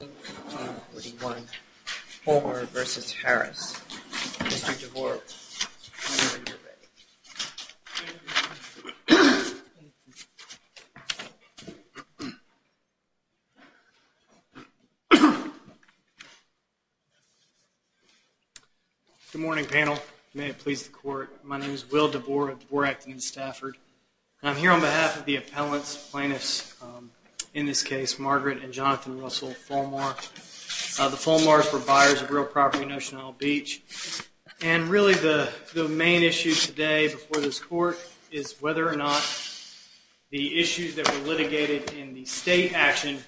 Good morning, panel. May it please the Court, my name is Will DeBoer of DeBoer Acton & Stafford, and I'm here on behalf of the appellants, plaintiffs, in this case, Margaret and Jonathan Russell Folmar. The Folmars were buyers of real property in Ocean Isle Beach, and really the main issue today before this Court is whether or not the issues that were litigated in the state action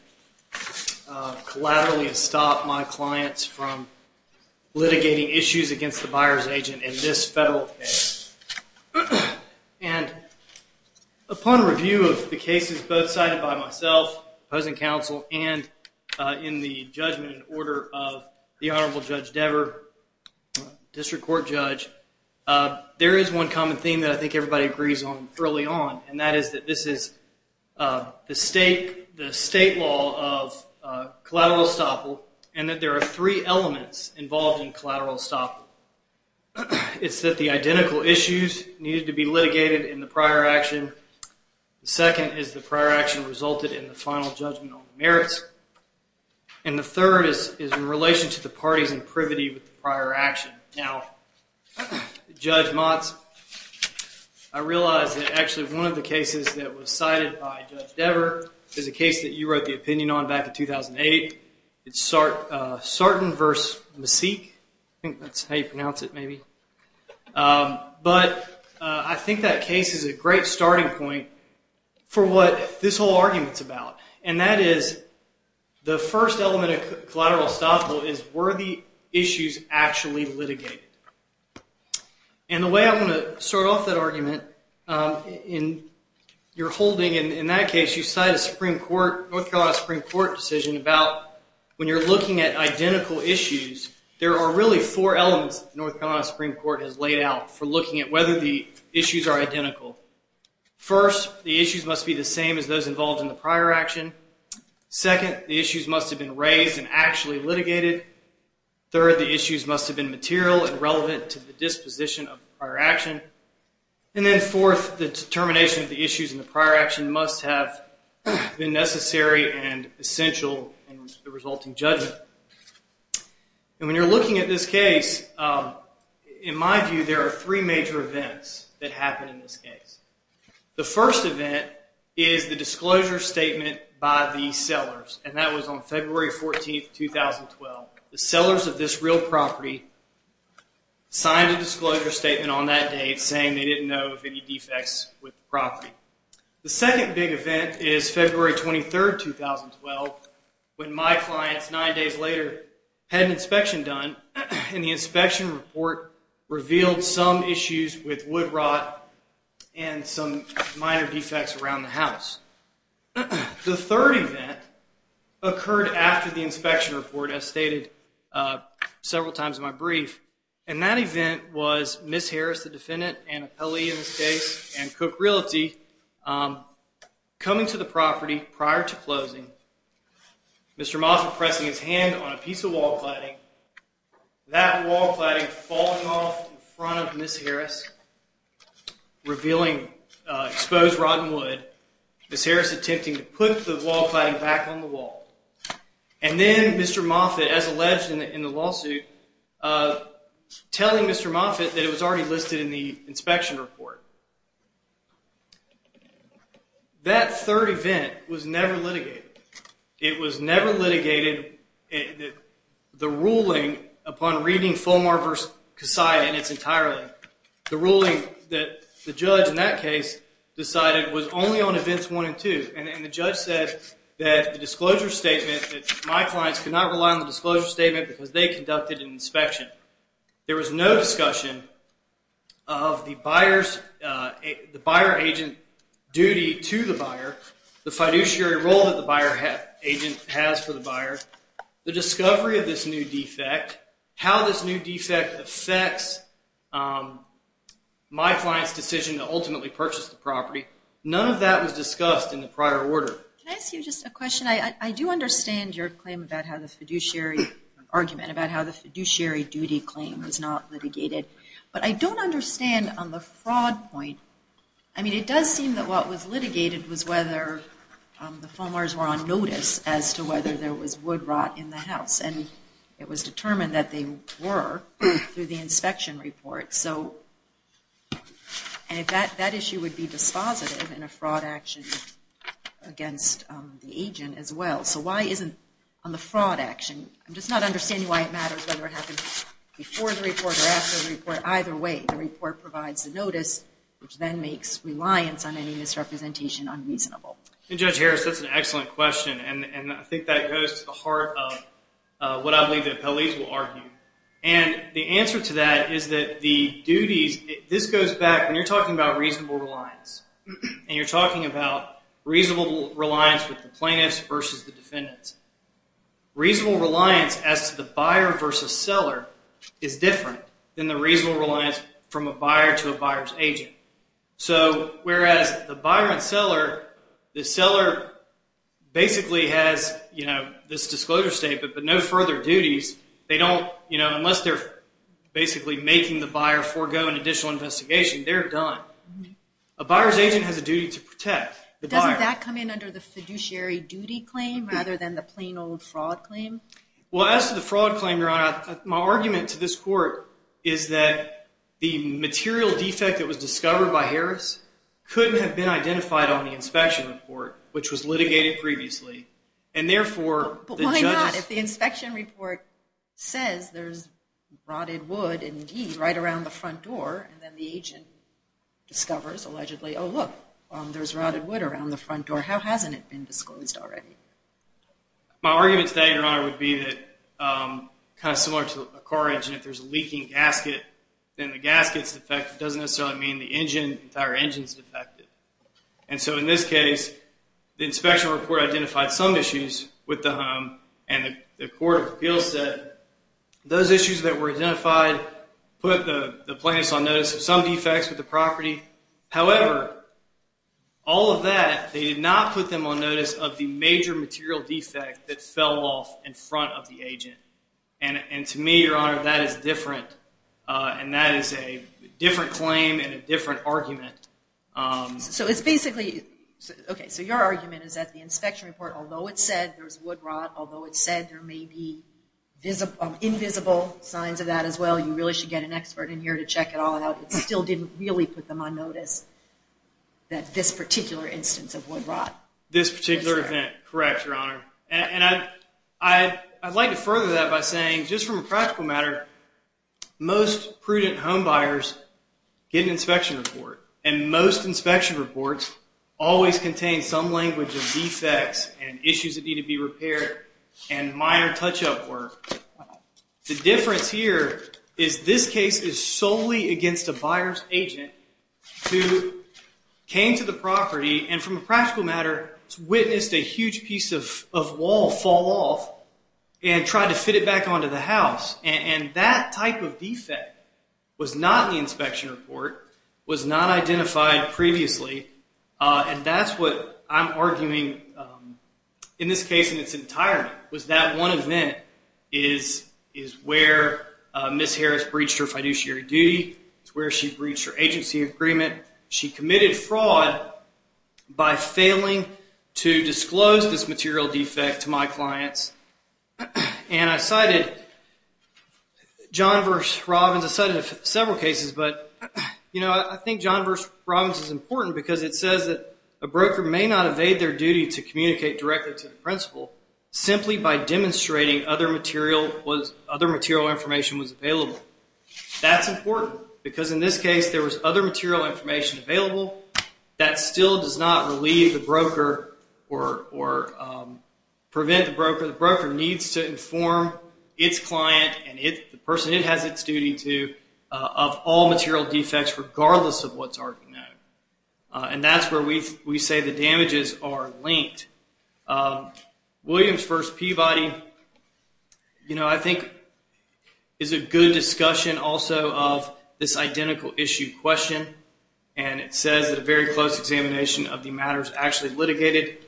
collaterally stop my clients from litigating issues against the buyer's agent in this federal case. And upon review of the cases both cited by myself, opposing counsel, and in the judgment and order of the Honorable Judge DeBoer, District Court Judge, there is one common theme that I think everybody agrees on early on, and that is that this is the state law of collateral estoppel, and that there are three elements involved in collateral estoppel. It's that the identical issues needed to be litigated in the prior action. The second is the prior action resulted in the final judgment on the merits. And the third is in relation to the parties in privity with the prior action. Now, Judge Motz, I realize that actually one of the cases that was cited by Judge DeBoer is a case that you wrote the opinion on back in 2008. It's Sarton v. Maseek, I think that's how you pronounce it maybe. But I think that case is a great starting point for what this whole argument's about, and that is the first element of collateral estoppel is were the issues actually litigated. And the way I want to start off that argument, in your holding in that case, you cite a North Carolina Supreme Court decision about when you're looking at identical issues, there are really four elements that the North Carolina Supreme Court has laid out for looking at whether the issues are identical. First, the issues must be the same as those involved in the prior action. Second, the issues must have been raised and actually litigated. Third, the issues must have been material and relevant to the disposition of the prior action. And then fourth, the determination of the issues in the prior action must have been necessary and essential in the resulting judgment. And when you're looking at this case, in my view, there are three major events that happen in this case. The first event is the disclosure statement by the sellers, and that was on February 14, 2012. The sellers of this real property signed a disclosure statement on that date saying they didn't know of any defects with the property. The second big event is February 23, 2012, when my clients, nine days later, had an inspection done, and the inspection report revealed some issues with wood rot and some minor defects around the house. The third event occurred after the inspection report, as stated several times in my brief, and that event was Ms. Harris, the defendant, an appellee in this case, and Cook Realty coming to the property prior to closing. Mr. Moffitt pressing his hand on a piece of wall cladding, that wall cladding falling off in front of Ms. Harris, revealing exposed rotten wood, Ms. Harris attempting to put the wall cladding back on the wall, and then Mr. Moffitt, as alleged in the lawsuit, telling Mr. Moffitt that it was already listed in the inspection report. That third event was never litigated. It was never litigated, the ruling upon reading Fulmar v. Kassai, and it's entirely, the ruling that the judge in that case decided was only on events one and two, and the judge said that the disclosure statement, that my clients could not rely on the disclosure statement because they conducted an inspection. There was no discussion of the buyer agent duty to the buyer, the fiduciary role that the buyer agent has for the buyer, the discovery of this new defect, how this new defect affects my client's decision to ultimately purchase the property. None of that was discussed in the prior order. Can I ask you just a question? I do understand your claim about how the fiduciary, argument about how the fiduciary duty claim was not litigated, but I don't understand on the fraud point, I mean it does seem that what was litigated was whether the Fulmars were on notice as to whether there was wood rot in the house, and it was determined that they were through the inspection report, so that issue would be dispositive in a fraud action against the agent as well. So why isn't on the fraud action, I'm just not understanding why it matters whether it happened before the report or after the report, either way the report provides the notice, which then makes reliance on any misrepresentation unreasonable. Judge Harris, that's an excellent question, and I think that goes to the heart of what I believe the appellees will argue. And the answer to that is that the duties, this goes back, when you're talking about reasonable reliance, and you're talking about reasonable reliance with the plaintiffs versus the defendants, reasonable reliance as to the buyer versus seller is different than the reasonable reliance from a buyer to a buyer's agent. So whereas the buyer and seller, the seller basically has this disclosure statement, but no further duties, they don't, you know, unless they're basically making the buyer forego an additional investigation, they're done. A buyer's agent has a duty to protect the buyer. Doesn't that come in under the fiduciary duty claim rather than the plain old fraud claim? Well, as to the fraud claim, Your Honor, my argument to this court is that the material defect that was discovered by Harris couldn't have been identified on the inspection report, which was litigated previously, and therefore the judges… says there's rotted wood, indeed, right around the front door, and then the agent discovers, allegedly, oh, look, there's rotted wood around the front door. How hasn't it been disclosed already? My argument today, Your Honor, would be that kind of similar to a car engine, if there's a leaking gasket, then the gasket's defect doesn't necessarily mean the entire engine's defected. And so in this case, the inspection report identified some issues with the home, and the court of appeals said those issues that were identified put the plaintiffs on notice of some defects with the property. However, all of that, they did not put them on notice of the major material defect that fell off in front of the agent. And to me, Your Honor, that is different, and that is a different claim and a different argument. So it's basically, okay, so your argument is that the inspection report, although it said there was wood rot, although it said there may be invisible signs of that as well, you really should get an expert in here to check it all out, it still didn't really put them on notice that this particular instance of wood rot. This particular event, correct, Your Honor. And I'd like to further that by saying, just from a practical matter, most prudent homebuyers get an inspection report, and most inspection reports always contain some language of defects and issues that need to be repaired and minor touch-up work. The difference here is this case is solely against a buyer's agent who came to the property and from a practical matter witnessed a huge piece of wall fall off and tried to fit it back onto the house. And that type of defect was not in the inspection report, was not identified previously, and that's what I'm arguing in this case in its entirety, was that one event is where Ms. Harris breached her fiduciary duty, it's where she breached her agency agreement. She committed fraud by failing to disclose this material defect to my clients. And I cited John v. Robbins, I cited several cases, but I think John v. Robbins is important because it says that a broker may not evade their duty to communicate directly to the principal simply by demonstrating other material information was available. That's important because in this case there was other material information available that still does not relieve the broker or prevent the broker. The broker needs to inform its client and the person it has its duty to of all material defects regardless of what's already known. And that's where we say the damages are linked. Williams v. Peabody, you know, I think is a good discussion also of this identical issue question and it says that a very close examination of the matters actually litigated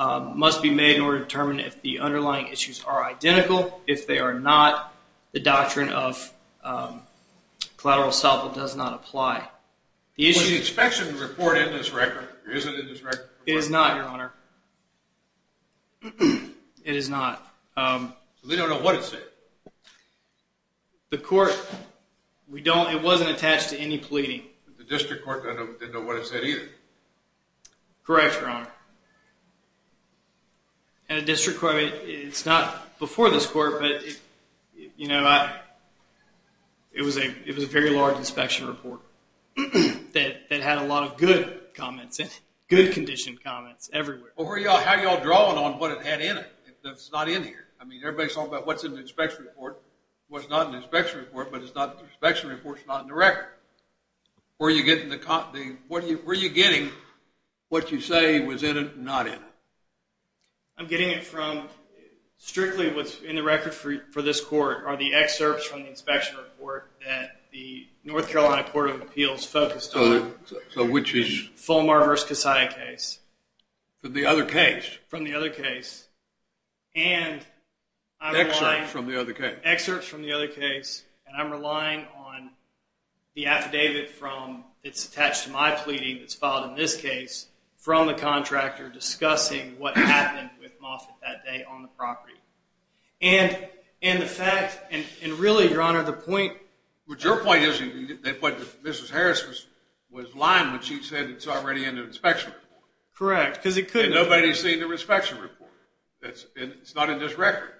must be made in order to determine if the underlying issues are identical. If they are not, the doctrine of collateral estoppel does not apply. The inspection report in this record, is it in this record? It is not, Your Honor. It is not. So they don't know what it said? The court, we don't, it wasn't attached to any pleading. The district court didn't know what it said either? Correct, Your Honor. And the district court, it's not before this court, but you know, it was a very large inspection report that had a lot of good comments in it, good condition comments everywhere. How are y'all drawing on what it had in it? It's not in here. I mean, everybody's talking about what's in the inspection report. Well, it's not in the inspection report, but the inspection report's not in the record. Where are you getting what you say was in it and not in it? I'm getting it from strictly what's in the record for this court are the excerpts from the inspection report that the North Carolina Court of Appeals focused on. So which is? Fulmar v. Casaya case. From the other case? From the other case. Excerpts from the other case. Excerpts from the other case. And I'm relying on the affidavit that's attached to my pleading that's filed in this case from the contractor discussing what happened with Moffitt that day on the property. And the fact, and really, Your Honor, the point... But your point is that Mrs. Harris was lying when she said it's already in the inspection report. Correct. And nobody's seen the inspection report. It's not in this record.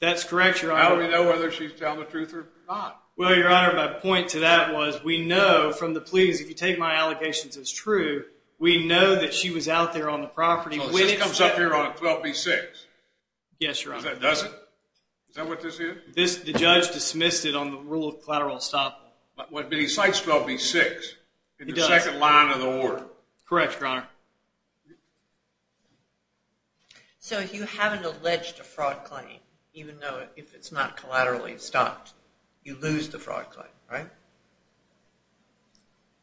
That's correct, Your Honor. How do we know whether she's telling the truth or not? Well, Your Honor, my point to that was we know from the pleadings, if you take my allegations as true, we know that she was out there on the property. So this comes up here on 12b-6? Yes, Your Honor. Does it? Is that what this is? The judge dismissed it on the rule of collateral estoppel. But he cites 12b-6 in the second line of the order. Correct, Your Honor. So if you haven't alleged a fraud claim, even though if it's not collaterally estopped, you lose the fraud claim, right?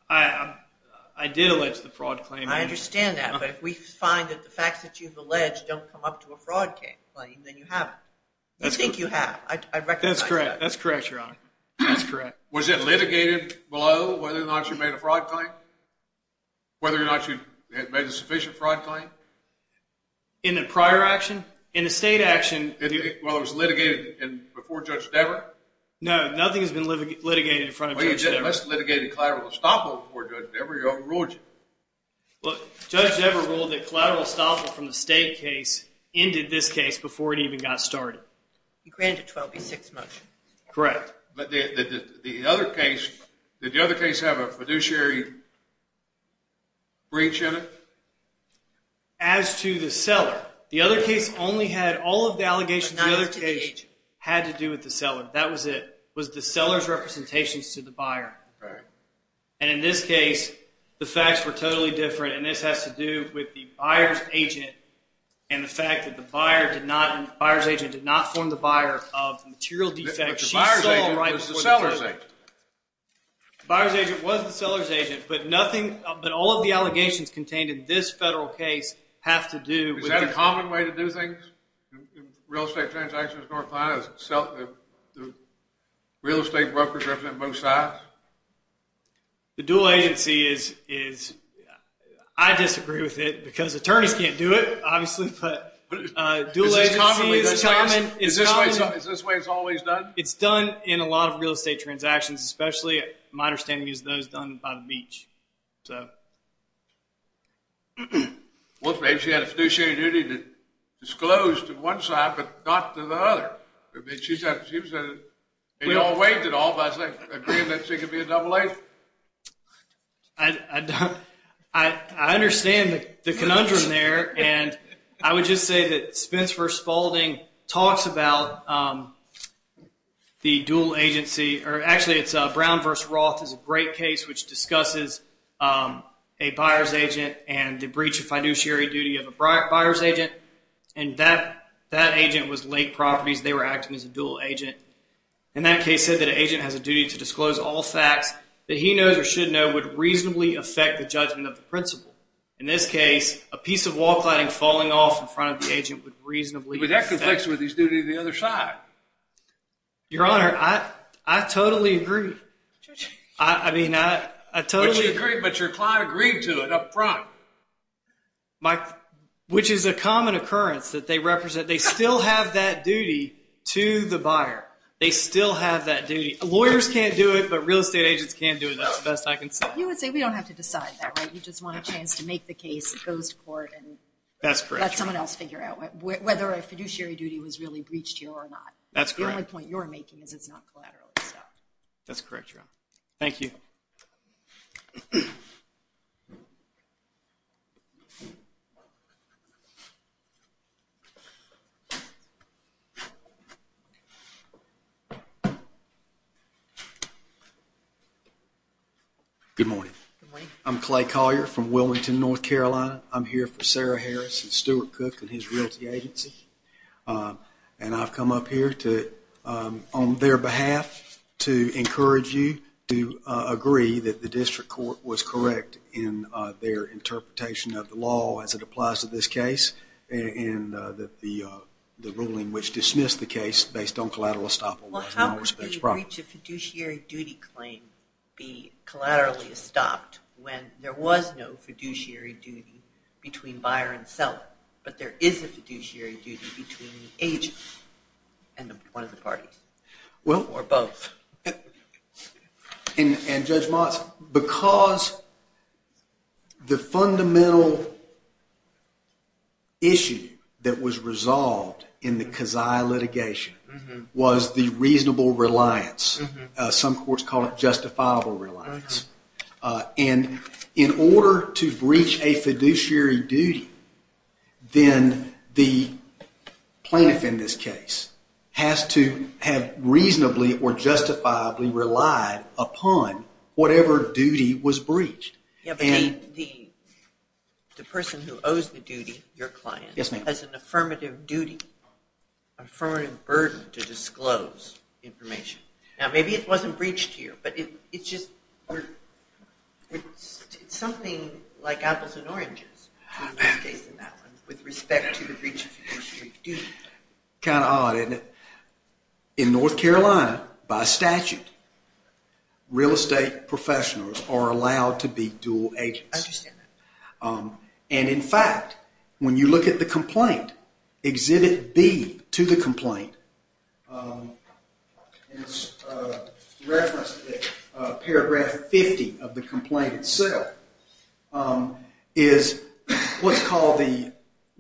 I did allege the fraud claim. I understand that. But if we find that the facts that you've alleged don't come up to a fraud claim, then you have it. You think you have. I recognize that. That's correct. That's correct, Your Honor. That's correct. Was it litigated below whether or not she made a fraud claim? Whether or not she made a sufficient fraud claim? In the prior action? In the state action? Well, it was litigated before Judge Dever? No, nothing has been litigated in front of Judge Dever. Well, you must have litigated collateral estoppel before Judge Dever. He overruled you. Look, Judge Dever ruled that collateral estoppel from the state case ended this case before it even got started. He granted a 12b-6 motion. Correct. But did the other case have a fiduciary breach in it? As to the seller, the other case only had all of the allegations of the other case had to do with the seller. That was it. It was the seller's representations to the buyer. Right. And in this case, the facts were totally different. And this has to do with the buyer's agent and the fact that the buyer's agent did not form the buyer of the material defect. But the buyer's agent was the seller's agent. The buyer's agent was the seller's agent. But all of the allegations contained in this federal case have to do with the seller. Is that a common way to do things in real estate transactions in North Carolina? The real estate brokers represent both sides? The dual agency is, I disagree with it because attorneys can't do it, obviously. But dual agency is common. Is this the way it's always done? It's done in a lot of real estate transactions, especially, my understanding is, those done by the beach. Well, maybe she had a fiduciary duty to disclose to one side but not to the other. She said, we all waived it all by agreeing that she could be a double agent. I understand the conundrum there. And I would just say that Spence v. Spalding talks about the dual agency. Actually, it's Brown v. Roth is a great case which discusses a buyer's agent and the breach of fiduciary duty of a buyer's agent. And that agent was Lake Properties. They were acting as a dual agent. And that case said that an agent has a duty to disclose all facts that he knows or should know would reasonably affect the judgment of the principal. In this case, a piece of wall cladding falling off in front of the agent would reasonably affect... But that conflicts with his duty to the other side. Your Honor, I totally agree. I mean, I totally... But you agreed, but your client agreed to it up front. Which is a common occurrence that they represent. They still have that duty to the buyer. They still have that duty. Lawyers can't do it, but real estate agents can do it. That's the best I can say. You would say we don't have to decide that, right? You just want a chance to make the case that goes to court and let someone else figure out whether a fiduciary duty was really breached here or not. That's correct. The only point you're making is it's not collateral. That's correct, Your Honor. Thank you. Thank you. Good morning. Good morning. I'm Clay Collier from Wilmington, North Carolina. I'm here for Sarah Harris and Stuart Cook and his realty agency. And I've come up here on their behalf to encourage you to agree that the district court was correct in their interpretation of the law as it applies to this case and the ruling which dismissed the case based on collateral estoppel. Well, how would the breach of fiduciary duty claim be collaterally estopped when there was no fiduciary duty between buyer and seller, but there is a fiduciary duty between the agent and one of the parties or both? And Judge Motz, because the fundamental issue that was resolved in the Kazai litigation was the reasonable reliance. Some courts call it justifiable reliance. And in order to breach a fiduciary duty, then the plaintiff in this case has to have reasonably or justifiably relied upon whatever duty was breached. The person who owes the duty, your client, has an affirmative duty, an affirmative burden to disclose information. Now, maybe it wasn't breached here, but it's something like apples and oranges with respect to the breach of fiduciary duty. Kind of odd, isn't it? In North Carolina, by statute, real estate professionals are allowed to be dual agents. I understand that. And in fact, when you look at the complaint, Exhibit B to the complaint, it's referenced in paragraph 50 of the complaint itself, is what's called the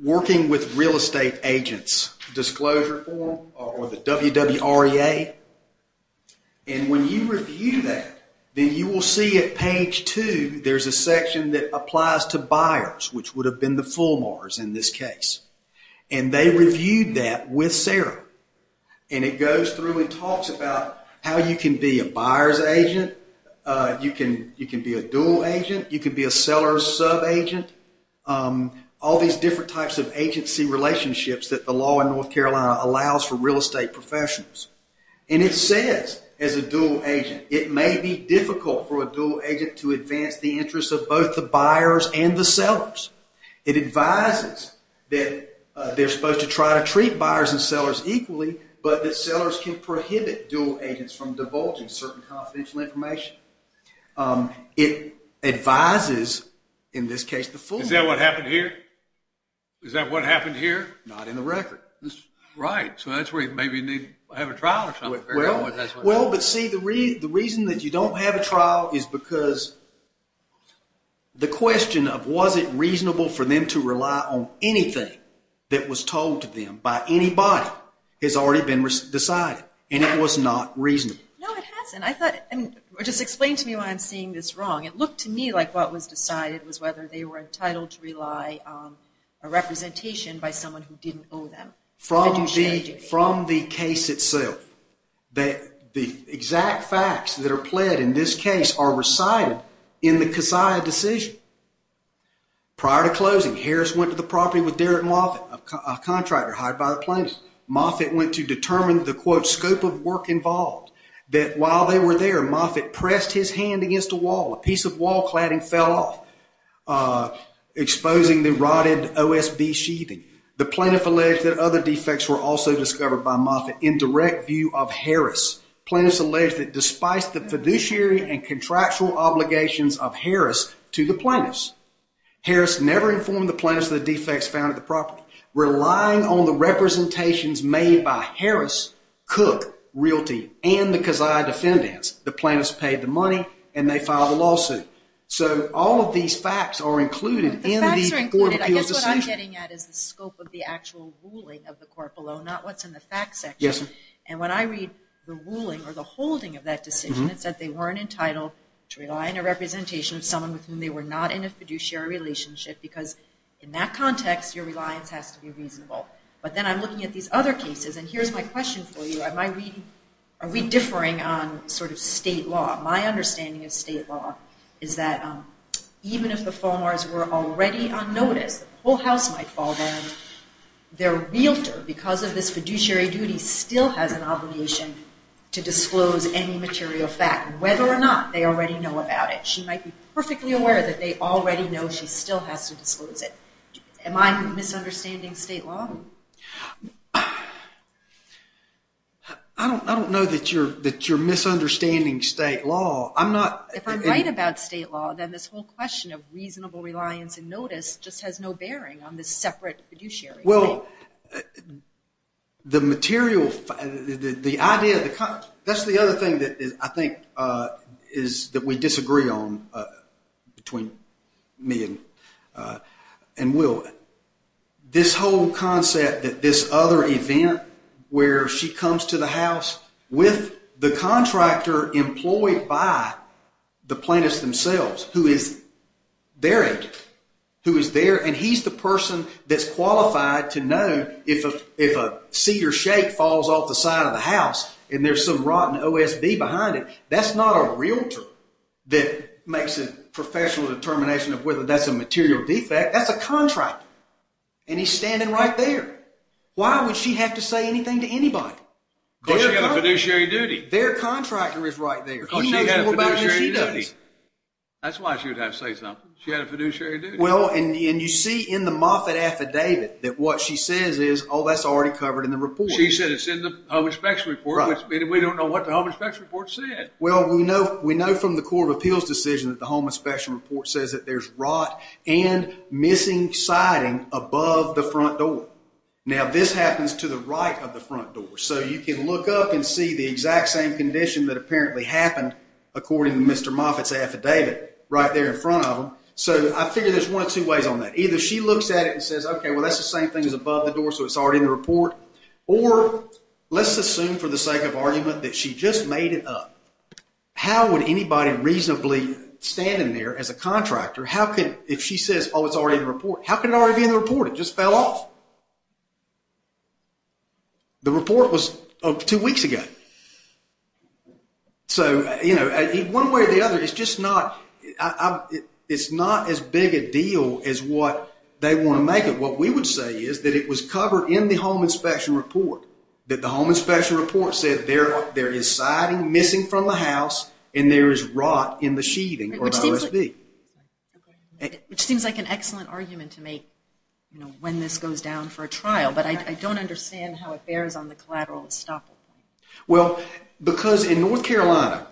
Working with Real Estate Agents Disclosure Form or the WWREA. And when you review that, then you will see at page two, there's a section that applies to buyers, which would have been the Fulmars in this case. And they reviewed that with Sarah. And it goes through and talks about how you can be a buyer's agent, you can be a dual agent, you can be a seller's sub-agent, all these different types of agency relationships that the law in North Carolina allows for real estate professionals. And it says, as a dual agent, it may be difficult for a dual agent to advance the interests of both the buyers and the sellers. It advises that they're supposed to try to treat buyers and sellers equally, but that sellers can prohibit dual agents from divulging certain confidential information. It advises, in this case, the Fulmars. Is that what happened here? Not in the record. Right, so that's where you maybe need to have a trial or something. Well, but see, the reason that you don't have a trial is because the question of was it reasonable for them to rely on anything that was told to them by anybody has already been decided. And it was not reasonable. No, it hasn't. Just explain to me why I'm seeing this wrong. It looked to me like what was decided was whether they were entitled to rely on a representation by someone who didn't owe them. From the case itself, the exact facts that are pled in this case are recited in the Casaya decision. Prior to closing, Harris went to the property with Derek Moffitt, a contractor hired by the plaintiffs. Moffitt went to determine the, quote, scope of work involved. That while they were there, Moffitt pressed his hand against a wall. A piece of wall cladding fell off, exposing the rotted OSB sheathing. The plaintiff alleged that other defects were also discovered by Moffitt in direct view of Harris. Plaintiffs alleged that despite the fiduciary and contractual obligations of Harris to the plaintiffs, Harris never informed the plaintiffs of the defects found at the property. Relying on the representations made by Harris, Cook, Realty, and the Casaya defendants, the plaintiffs paid the money and they filed a lawsuit. So all of these facts are included in the court of appeals decision. The facts are included. I guess what I'm getting at is the scope of the actual ruling of the court below, not what's in the facts section. Yes, ma'am. And when I read the ruling or the holding of that decision, it said they weren't entitled to rely on a representation of someone with whom they were not in a fiduciary relationship because in that context, your reliance has to be reasonable. But then I'm looking at these other cases, and here's my question for you. Are we differing on sort of state law? My understanding of state law is that even if the Falmars were already on notice, the whole house might fall down. Their realtor, because of this fiduciary duty, still has an obligation to disclose any material fact, whether or not they already know about it. She might be perfectly aware that they already know she still has to disclose it. Am I misunderstanding state law? I don't know that you're misunderstanding state law. If I'm right about state law, then this whole question of reasonable reliance and notice just has no bearing on this separate fiduciary. Well, the material, the idea, that's the other thing that I think is that we disagree on between me and Will. This whole concept that this other event where she comes to the house with the contractor employed by the plaintiffs themselves, who is their agent, who is there, and he's the person that's qualified to know if a cedar shake falls off the side of the house and there's some rotten OSB behind it, that's not a realtor that makes a professional determination of whether that's a material defect. That's a contractor, and he's standing right there. Why would she have to say anything to anybody? Because she's got a fiduciary duty. Their contractor is right there. He knows more about it than she does. That's why she would have to say something. She had a fiduciary duty. Well, and you see in the Moffitt affidavit that what she says is, oh, that's already covered in the report. She said it's in the home inspection report, which we don't know what the home inspection report said. Well, we know from the Court of Appeals decision that the home inspection report says that there's rot and missing siding above the front door. Now, this happens to the right of the front door. So you can look up and see the exact same condition that apparently happened according to Mr. Moffitt's affidavit right there in front of him. So I figure there's one of two ways on that. Either she looks at it and says, okay, well, that's the same thing as above the door, so it's already in the report. Or let's assume for the sake of argument that she just made it up. How would anybody reasonably stand in there as a contractor? How could, if she says, oh, it's already in the report, how could it already be in the report? It just fell off. The report was two weeks ago. So, you know, one way or the other, it's just not, it's not as big a deal as what they want to make it. What we would say is that it was covered in the home inspection report. That the home inspection report said there is siding missing from the house and there is rot in the sheathing or the OSB. Which seems like an excellent argument to make, you know, when this goes down for a trial. But I don't understand how it bears on the collateral estoppel point. Well, because in North Carolina,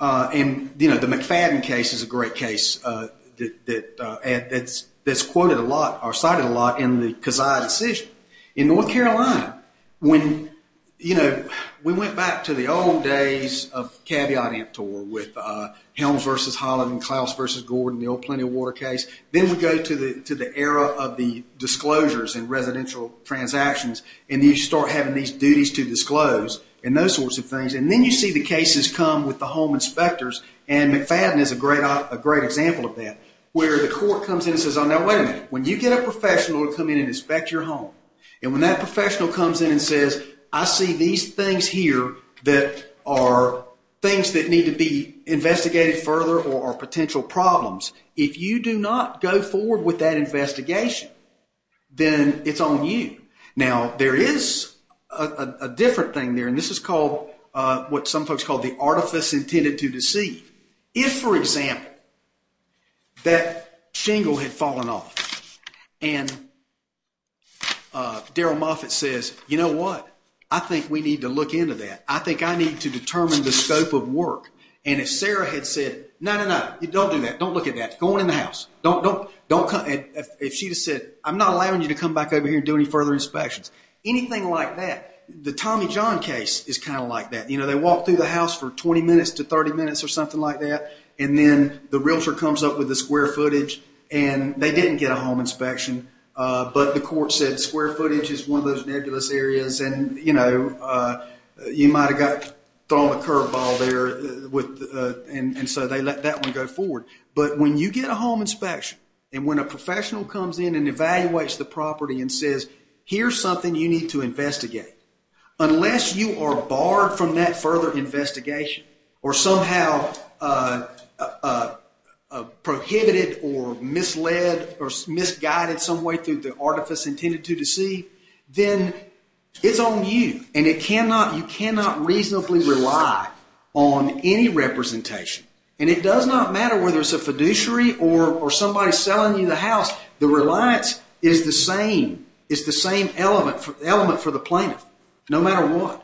and, you know, the McFadden case is a great case that's quoted a lot or cited a lot in the Kazaa decision. In North Carolina, when, you know, we went back to the old days of caveat emptor with Helms v. Holland, Klaus v. Gordon, the old Plenty of Water case. Then we go to the era of the disclosures and residential transactions. And you start having these duties to disclose and those sorts of things. And then you see the cases come with the home inspectors. And McFadden is a great example of that. Where the court comes in and says, oh, now, wait a minute. When you get a professional to come in and inspect your home. And when that professional comes in and says, I see these things here that are things that need to be investigated further or are potential problems. If you do not go forward with that investigation, then it's on you. Now, there is a different thing there. And this is called what some folks call the artifice intended to deceive. If, for example, that shingle had fallen off. And Daryl Moffitt says, you know what? I think we need to look into that. I think I need to determine the scope of work. And if Sarah had said, no, no, no. Don't do that. Don't look at that. Go on in the house. If she had said, I'm not allowing you to come back over here and do any further inspections. Anything like that. The Tommy John case is kind of like that. They walk through the house for 20 minutes to 30 minutes or something like that. And then the realtor comes up with the square footage. And they didn't get a home inspection. But the court said square footage is one of those nebulous areas. And, you know, you might have got thrown a curveball there. And so they let that one go forward. But when you get a home inspection and when a professional comes in and evaluates the property and says, here's something you need to investigate. Unless you are barred from that further investigation or somehow prohibited or misled or misguided some way through the artifice intended to deceive, then it's on you. And you cannot reasonably rely on any representation. And it does not matter whether it's a fiduciary or somebody selling you the house. The reliance is the same element for the plaintiff no matter what.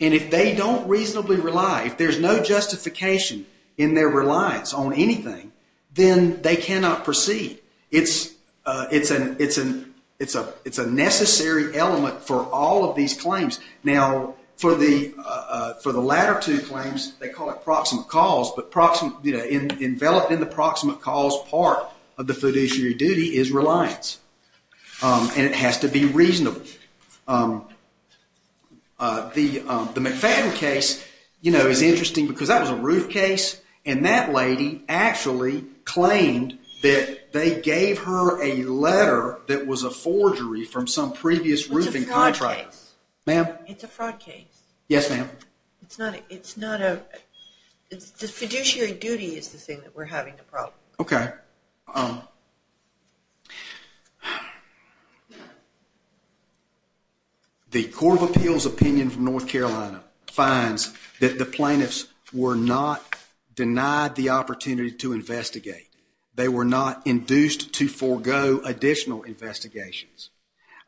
And if they don't reasonably rely, if there's no justification in their reliance on anything, then they cannot proceed. It's a necessary element for all of these claims. Now, for the latter two claims, they call it proximate cause. But enveloped in the proximate cause part of the fiduciary duty is reliance. And it has to be reasonable. The McFadden case, you know, is interesting because that was a roof case. And that lady actually claimed that they gave her a letter that was a forgery from some previous roofing contractor. It's a fraud case. Ma'am? It's a fraud case. Yes, ma'am. It's not a fiduciary duty is the thing that we're having a problem with. Okay. The Court of Appeals opinion from North Carolina finds that the plaintiffs were not denied the opportunity to investigate. They were not induced to forego additional investigations.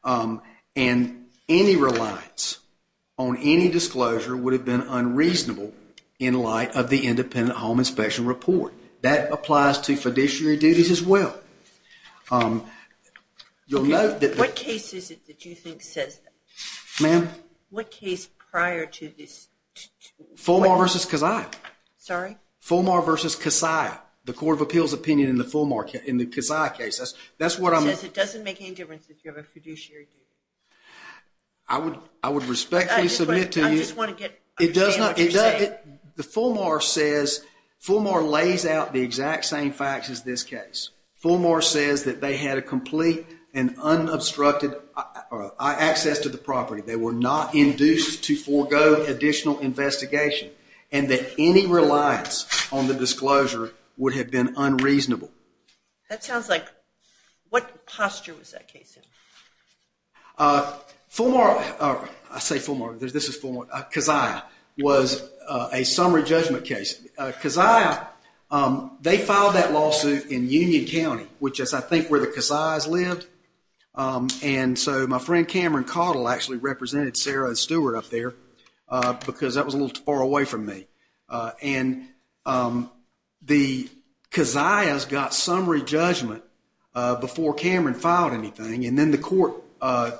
And any reliance on any disclosure would have been unreasonable in light of the independent home inspection report. That applies to fiduciary duties as well. Okay. What case is it that you think says that? Ma'am? What case prior to this? Fulmar v. Kasaya. Sorry? Fulmar v. Kasaya. The Court of Appeals opinion in the Fulmar, in the Kasaya case. It says it doesn't make any difference if you have a fiduciary duty. I would respectfully submit to you. I just want to understand what you're saying. The Fulmar says, Fulmar lays out the exact same facts as this case. Fulmar says that they had a complete and unobstructed access to the property. They were not induced to forego additional investigation. And that any reliance on the disclosure would have been unreasonable. That sounds like, what posture was that case in? Fulmar, I say Fulmar, this is Fulmar, Kasaya, was a summary judgment case. Kasaya, they filed that lawsuit in Union County, which is I think where the Kasayas lived. And so my friend Cameron Cottle actually represented Sarah Stewart up there because that was a little too far away from me. And the Kasayas got summary judgment before Cameron filed anything. And then the court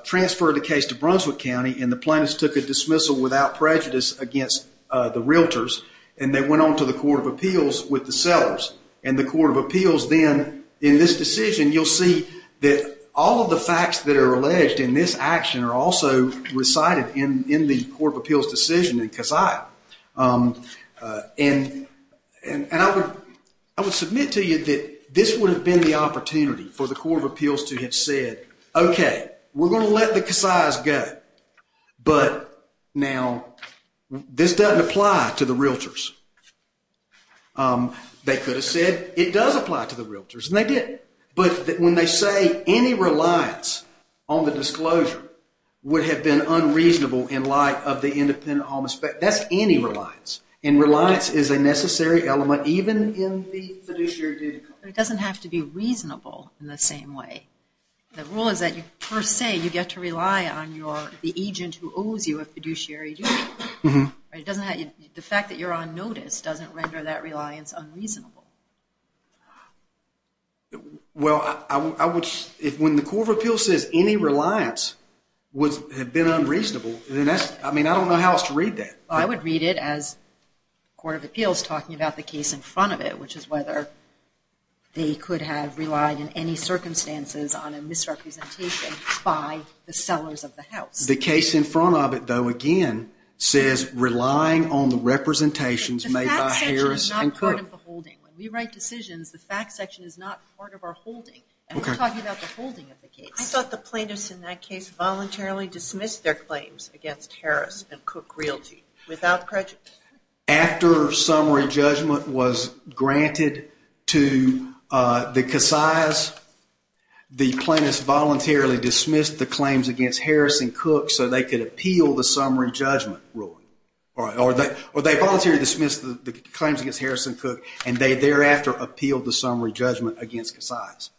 transferred the case to Brunswick County and the plaintiffs took a dismissal without prejudice against the realtors. And they went on to the Court of Appeals with the sellers. And the Court of Appeals then, in this decision, you'll see that all of the facts that are alleged in this action are also recited in the Court of Appeals decision in Kasaya. And I would submit to you that this would have been the opportunity for the Court of Appeals to have said, OK, we're going to let the Kasayas go, but now this doesn't apply to the realtors. They could have said, it does apply to the realtors, and they did. But when they say any reliance on the disclosure would have been unreasonable in light of the independent home aspect, that's any reliance. And reliance is a necessary element even in the fiduciary duty. It doesn't have to be reasonable in the same way. The rule is that per se you get to rely on the agent who owes you a fiduciary duty. The fact that you're on notice doesn't render that reliance unreasonable. Well, when the Court of Appeals says any reliance would have been unreasonable, I don't know how else to read that. I would read it as the Court of Appeals talking about the case in front of it, which is whether they could have relied in any circumstances on a misrepresentation by the sellers of the house. The case in front of it, though, again, says relying on the representations made by Harris and Cook. That's not part of the holding. When we write decisions, the fact section is not part of our holding. And we're talking about the holding of the case. I thought the plaintiffs in that case voluntarily dismissed their claims against Harris and Cook Realty without prejudice. After summary judgment was granted to the Casillas, the plaintiffs voluntarily dismissed the claims against Harris and Cook so they could appeal the summary judgment ruling. Or they voluntarily dismissed the claims against Harris and Cook, and they thereafter appealed the summary judgment against Casillas.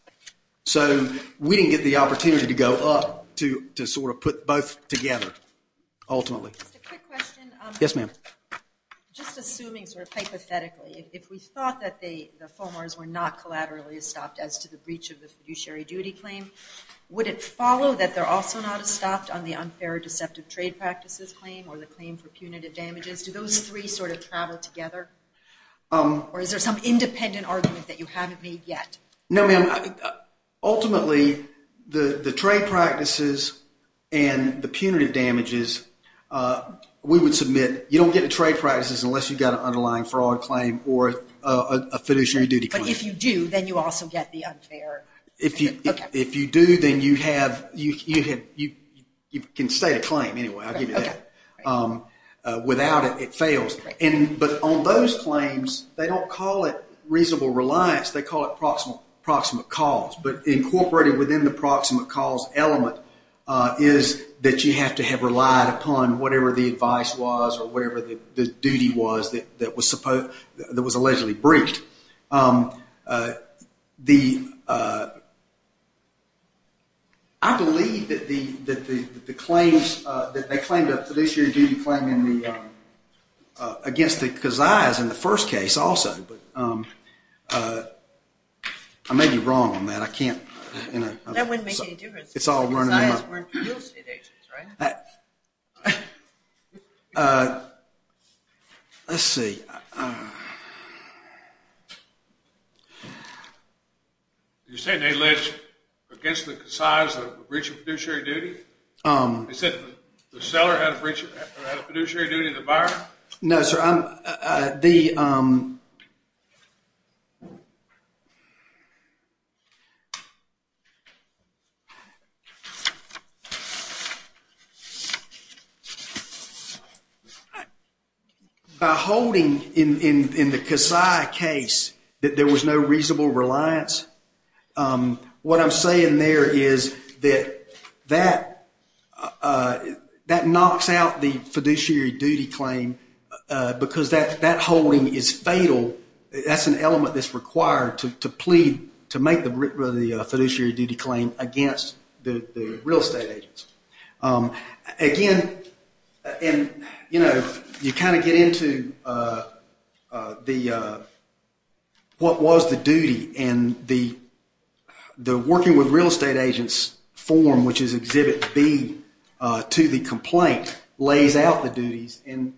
So we didn't get the opportunity to go up to sort of put both together, ultimately. Just a quick question. Yes, ma'am. Just assuming sort of hypothetically, if we thought that the FOMARs were not collaterally estopped as to the breach of the fiduciary duty claim, would it follow that they're also not estopped on the unfair deceptive trade practices claim or the claim for punitive damages? Do those three sort of travel together? Or is there some independent argument that you haven't made yet? No, ma'am. Ultimately, the trade practices and the punitive damages, we would submit, you don't get the trade practices unless you've got an underlying fraud claim or a fiduciary duty claim. But if you do, then you also get the unfair. If you do, then you can state a claim anyway. I'll give you that. Without it, it fails. But on those claims, they don't call it reasonable reliance. They call it proximate cause. But incorporated within the proximate cause element is that you have to have relied upon whatever the advice was or whatever the duty was that was allegedly breached. I believe that the claims that they claimed, the fiduciary duty claim, against the Kazais in the first case also. But I may be wrong on that. I can't. That wouldn't make any difference. It's all running in my mind. The Kazais weren't real estate agents, right? Let's see. You're saying they alleged against the Kazais a breach of fiduciary duty? You said the seller had a fiduciary duty to the buyer? No, sir. The By holding in the Kazai case that there was no reasonable reliance, what I'm saying there is that that knocks out the fiduciary duty claim because that holding is fatal. That's an element that's required to plead to make the fiduciary duty claim against the real estate agents. Again, you kind of get into what was the duty. And the Working with Real Estate Agents form, which is Exhibit B to the complaint, lays out the duties. And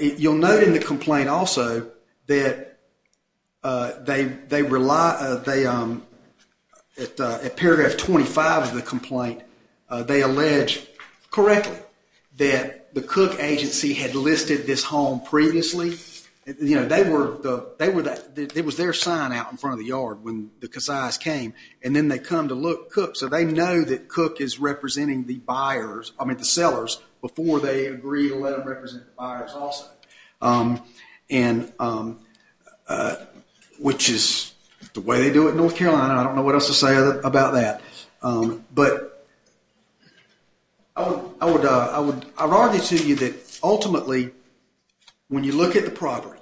you'll note in the complaint also that at paragraph 25 of the complaint, they allege correctly that the Cook agency had listed this home previously. It was their sign out in front of the yard when the Kazais came, and then they come to look. So they know that Cook is representing the sellers before they agree to let them represent the buyers also, which is the way they do it in North Carolina. I don't know what else to say about that. But I would argue to you that ultimately, when you look at the property,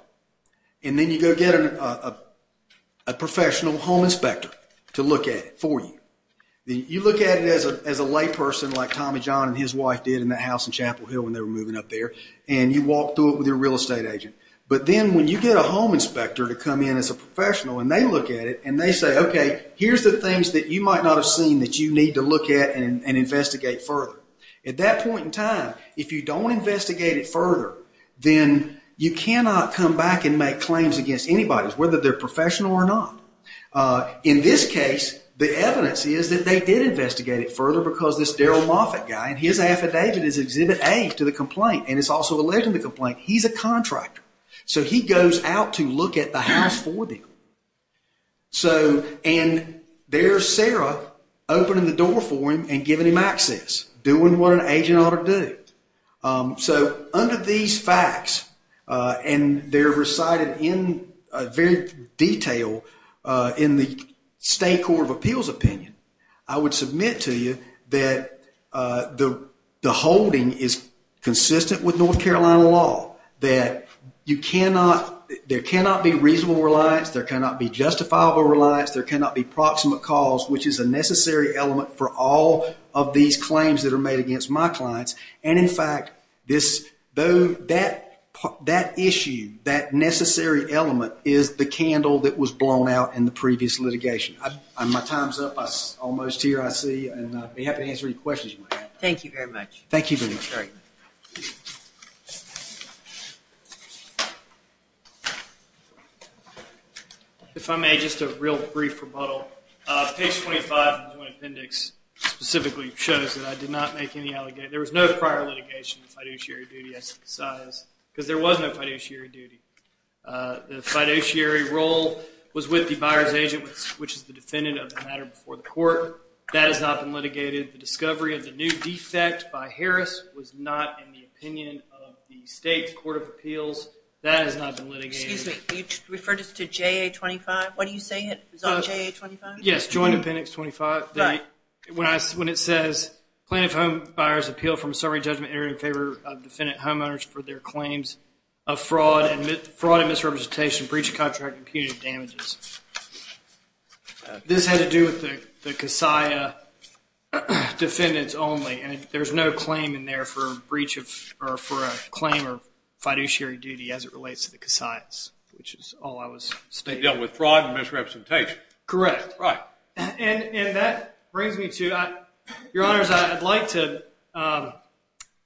and then you go get a professional home inspector to look at it for you, you look at it as a layperson like Tommy John and his wife did in that house in Chapel Hill when they were moving up there, and you walk through it with your real estate agent. But then when you get a home inspector to come in as a professional and they look at it and they say, okay, here's the things that you might not have seen that you need to look at and investigate further. At that point in time, if you don't investigate it further, then you cannot come back and make claims against anybody, whether they're professional or not. In this case, the evidence is that they did investigate it further because this Darryl Moffett guy, and his affidavit is Exhibit A to the complaint, and it's also alleged in the complaint, he's a contractor. So he goes out to look at the house for them. And there's Sarah opening the door for him and giving him access, doing what an agent ought to do. So under these facts, and they're recited in very detail in the State Court of Appeals opinion, I would submit to you that the holding is consistent with North Carolina law, that there cannot be reasonable reliance, there cannot be justifiable reliance, there cannot be proximate cause, which is a necessary element for all of these claims that are made against my clients. And in fact, that issue, that necessary element, is the candle that was blown out in the previous litigation. My time's up. I'm almost here, I see. And I'd be happy to answer any questions you might have. Thank you very much. Thank you very much. If I may, just a real brief rebuttal. Page 25 of the Joint Appendix specifically shows that I did not make any allegations. There was no prior litigation of fiduciary duty, I synthesize, because there was no fiduciary duty. The fiduciary role was with the buyer's agent, which is the defendant of the matter before the court. That has not been litigated. The discovery of the new defect by Harris was not in the opinion of the state's court of appeals. That has not been litigated. Excuse me, are you referring to JA-25? What do you say is on JA-25? Yes, Joint Appendix 25. Right. When it says, plaintiff home buyers appeal from a summary judgment in favor of defendant homeowners for their claims of fraud and misrepresentation, breach of contract, and punitive damages. This had to do with the CASIA defendants only. And there's no claim in there for a breach of, or for a claim of fiduciary duty as it relates to the CASIAs, which is all I was stating. Dealing with fraud and misrepresentation. Correct. Right. And that brings me to, Your Honors, I'd like to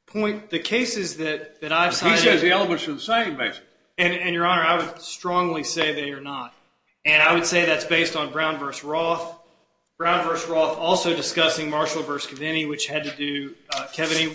point the cases that I've cited. He says the elements are the same, basically. And, Your Honor, I would strongly say they are not. And I would say that's based on Brown v. Roth. Brown v. Roth also discussing Marshall v. Kaveny, which had to do, Kaveny.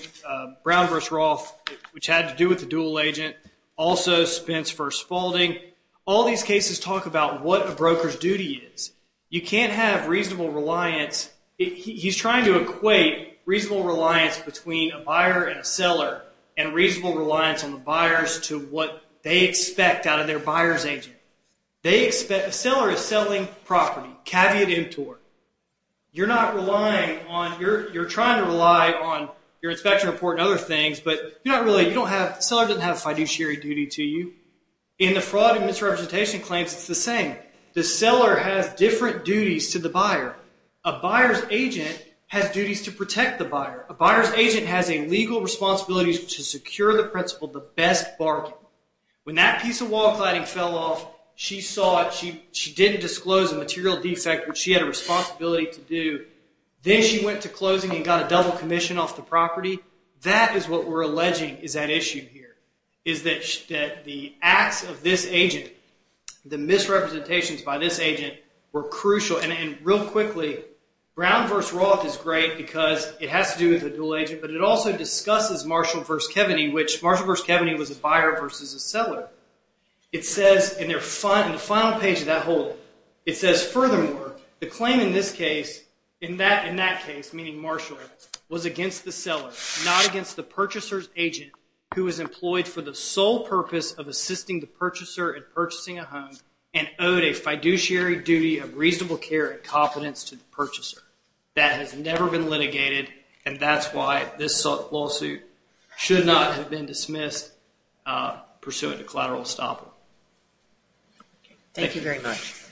Brown v. Roth, which had to do with the dual agent. Also, Spence v. Spaulding. All these cases talk about what a broker's duty is. You can't have reasonable reliance. He's trying to equate reasonable reliance between a buyer and a seller, and reasonable reliance on the buyers to what they expect out of their buyer's agent. The seller is selling property, caveat emptor. You're not relying on, you're trying to rely on your inspection report and other things, but you're not really, you don't have, the seller doesn't have fiduciary duty to you. In the fraud and misrepresentation claims, it's the same. The seller has different duties to the buyer. A buyer's agent has duties to protect the buyer. A buyer's agent has a legal responsibility to secure the principal, the best bargain. When that piece of wall cladding fell off, she saw it, she didn't disclose a material defect, which she had a responsibility to do. Then she went to closing and got a double commission off the property. That is what we're alleging is at issue here, is that the acts of this agent, the misrepresentations by this agent were crucial. Real quickly, Brown v. Roth is great because it has to do with a dual agent, but it also discusses Marshall v. Keveny, which Marshall v. Keveny was a buyer versus a seller. It says in the final page of that whole, it says, furthermore, the claim in this case, in that case, meaning Marshall, was against the seller, not against the purchaser's agent, who was employed for the sole purpose of assisting the purchaser in purchasing a home and owed a fiduciary duty of reasonable care and confidence to the purchaser. That has never been litigated, and that's why this lawsuit should not have been dismissed pursuant to collateral estoppel. Thank you very much.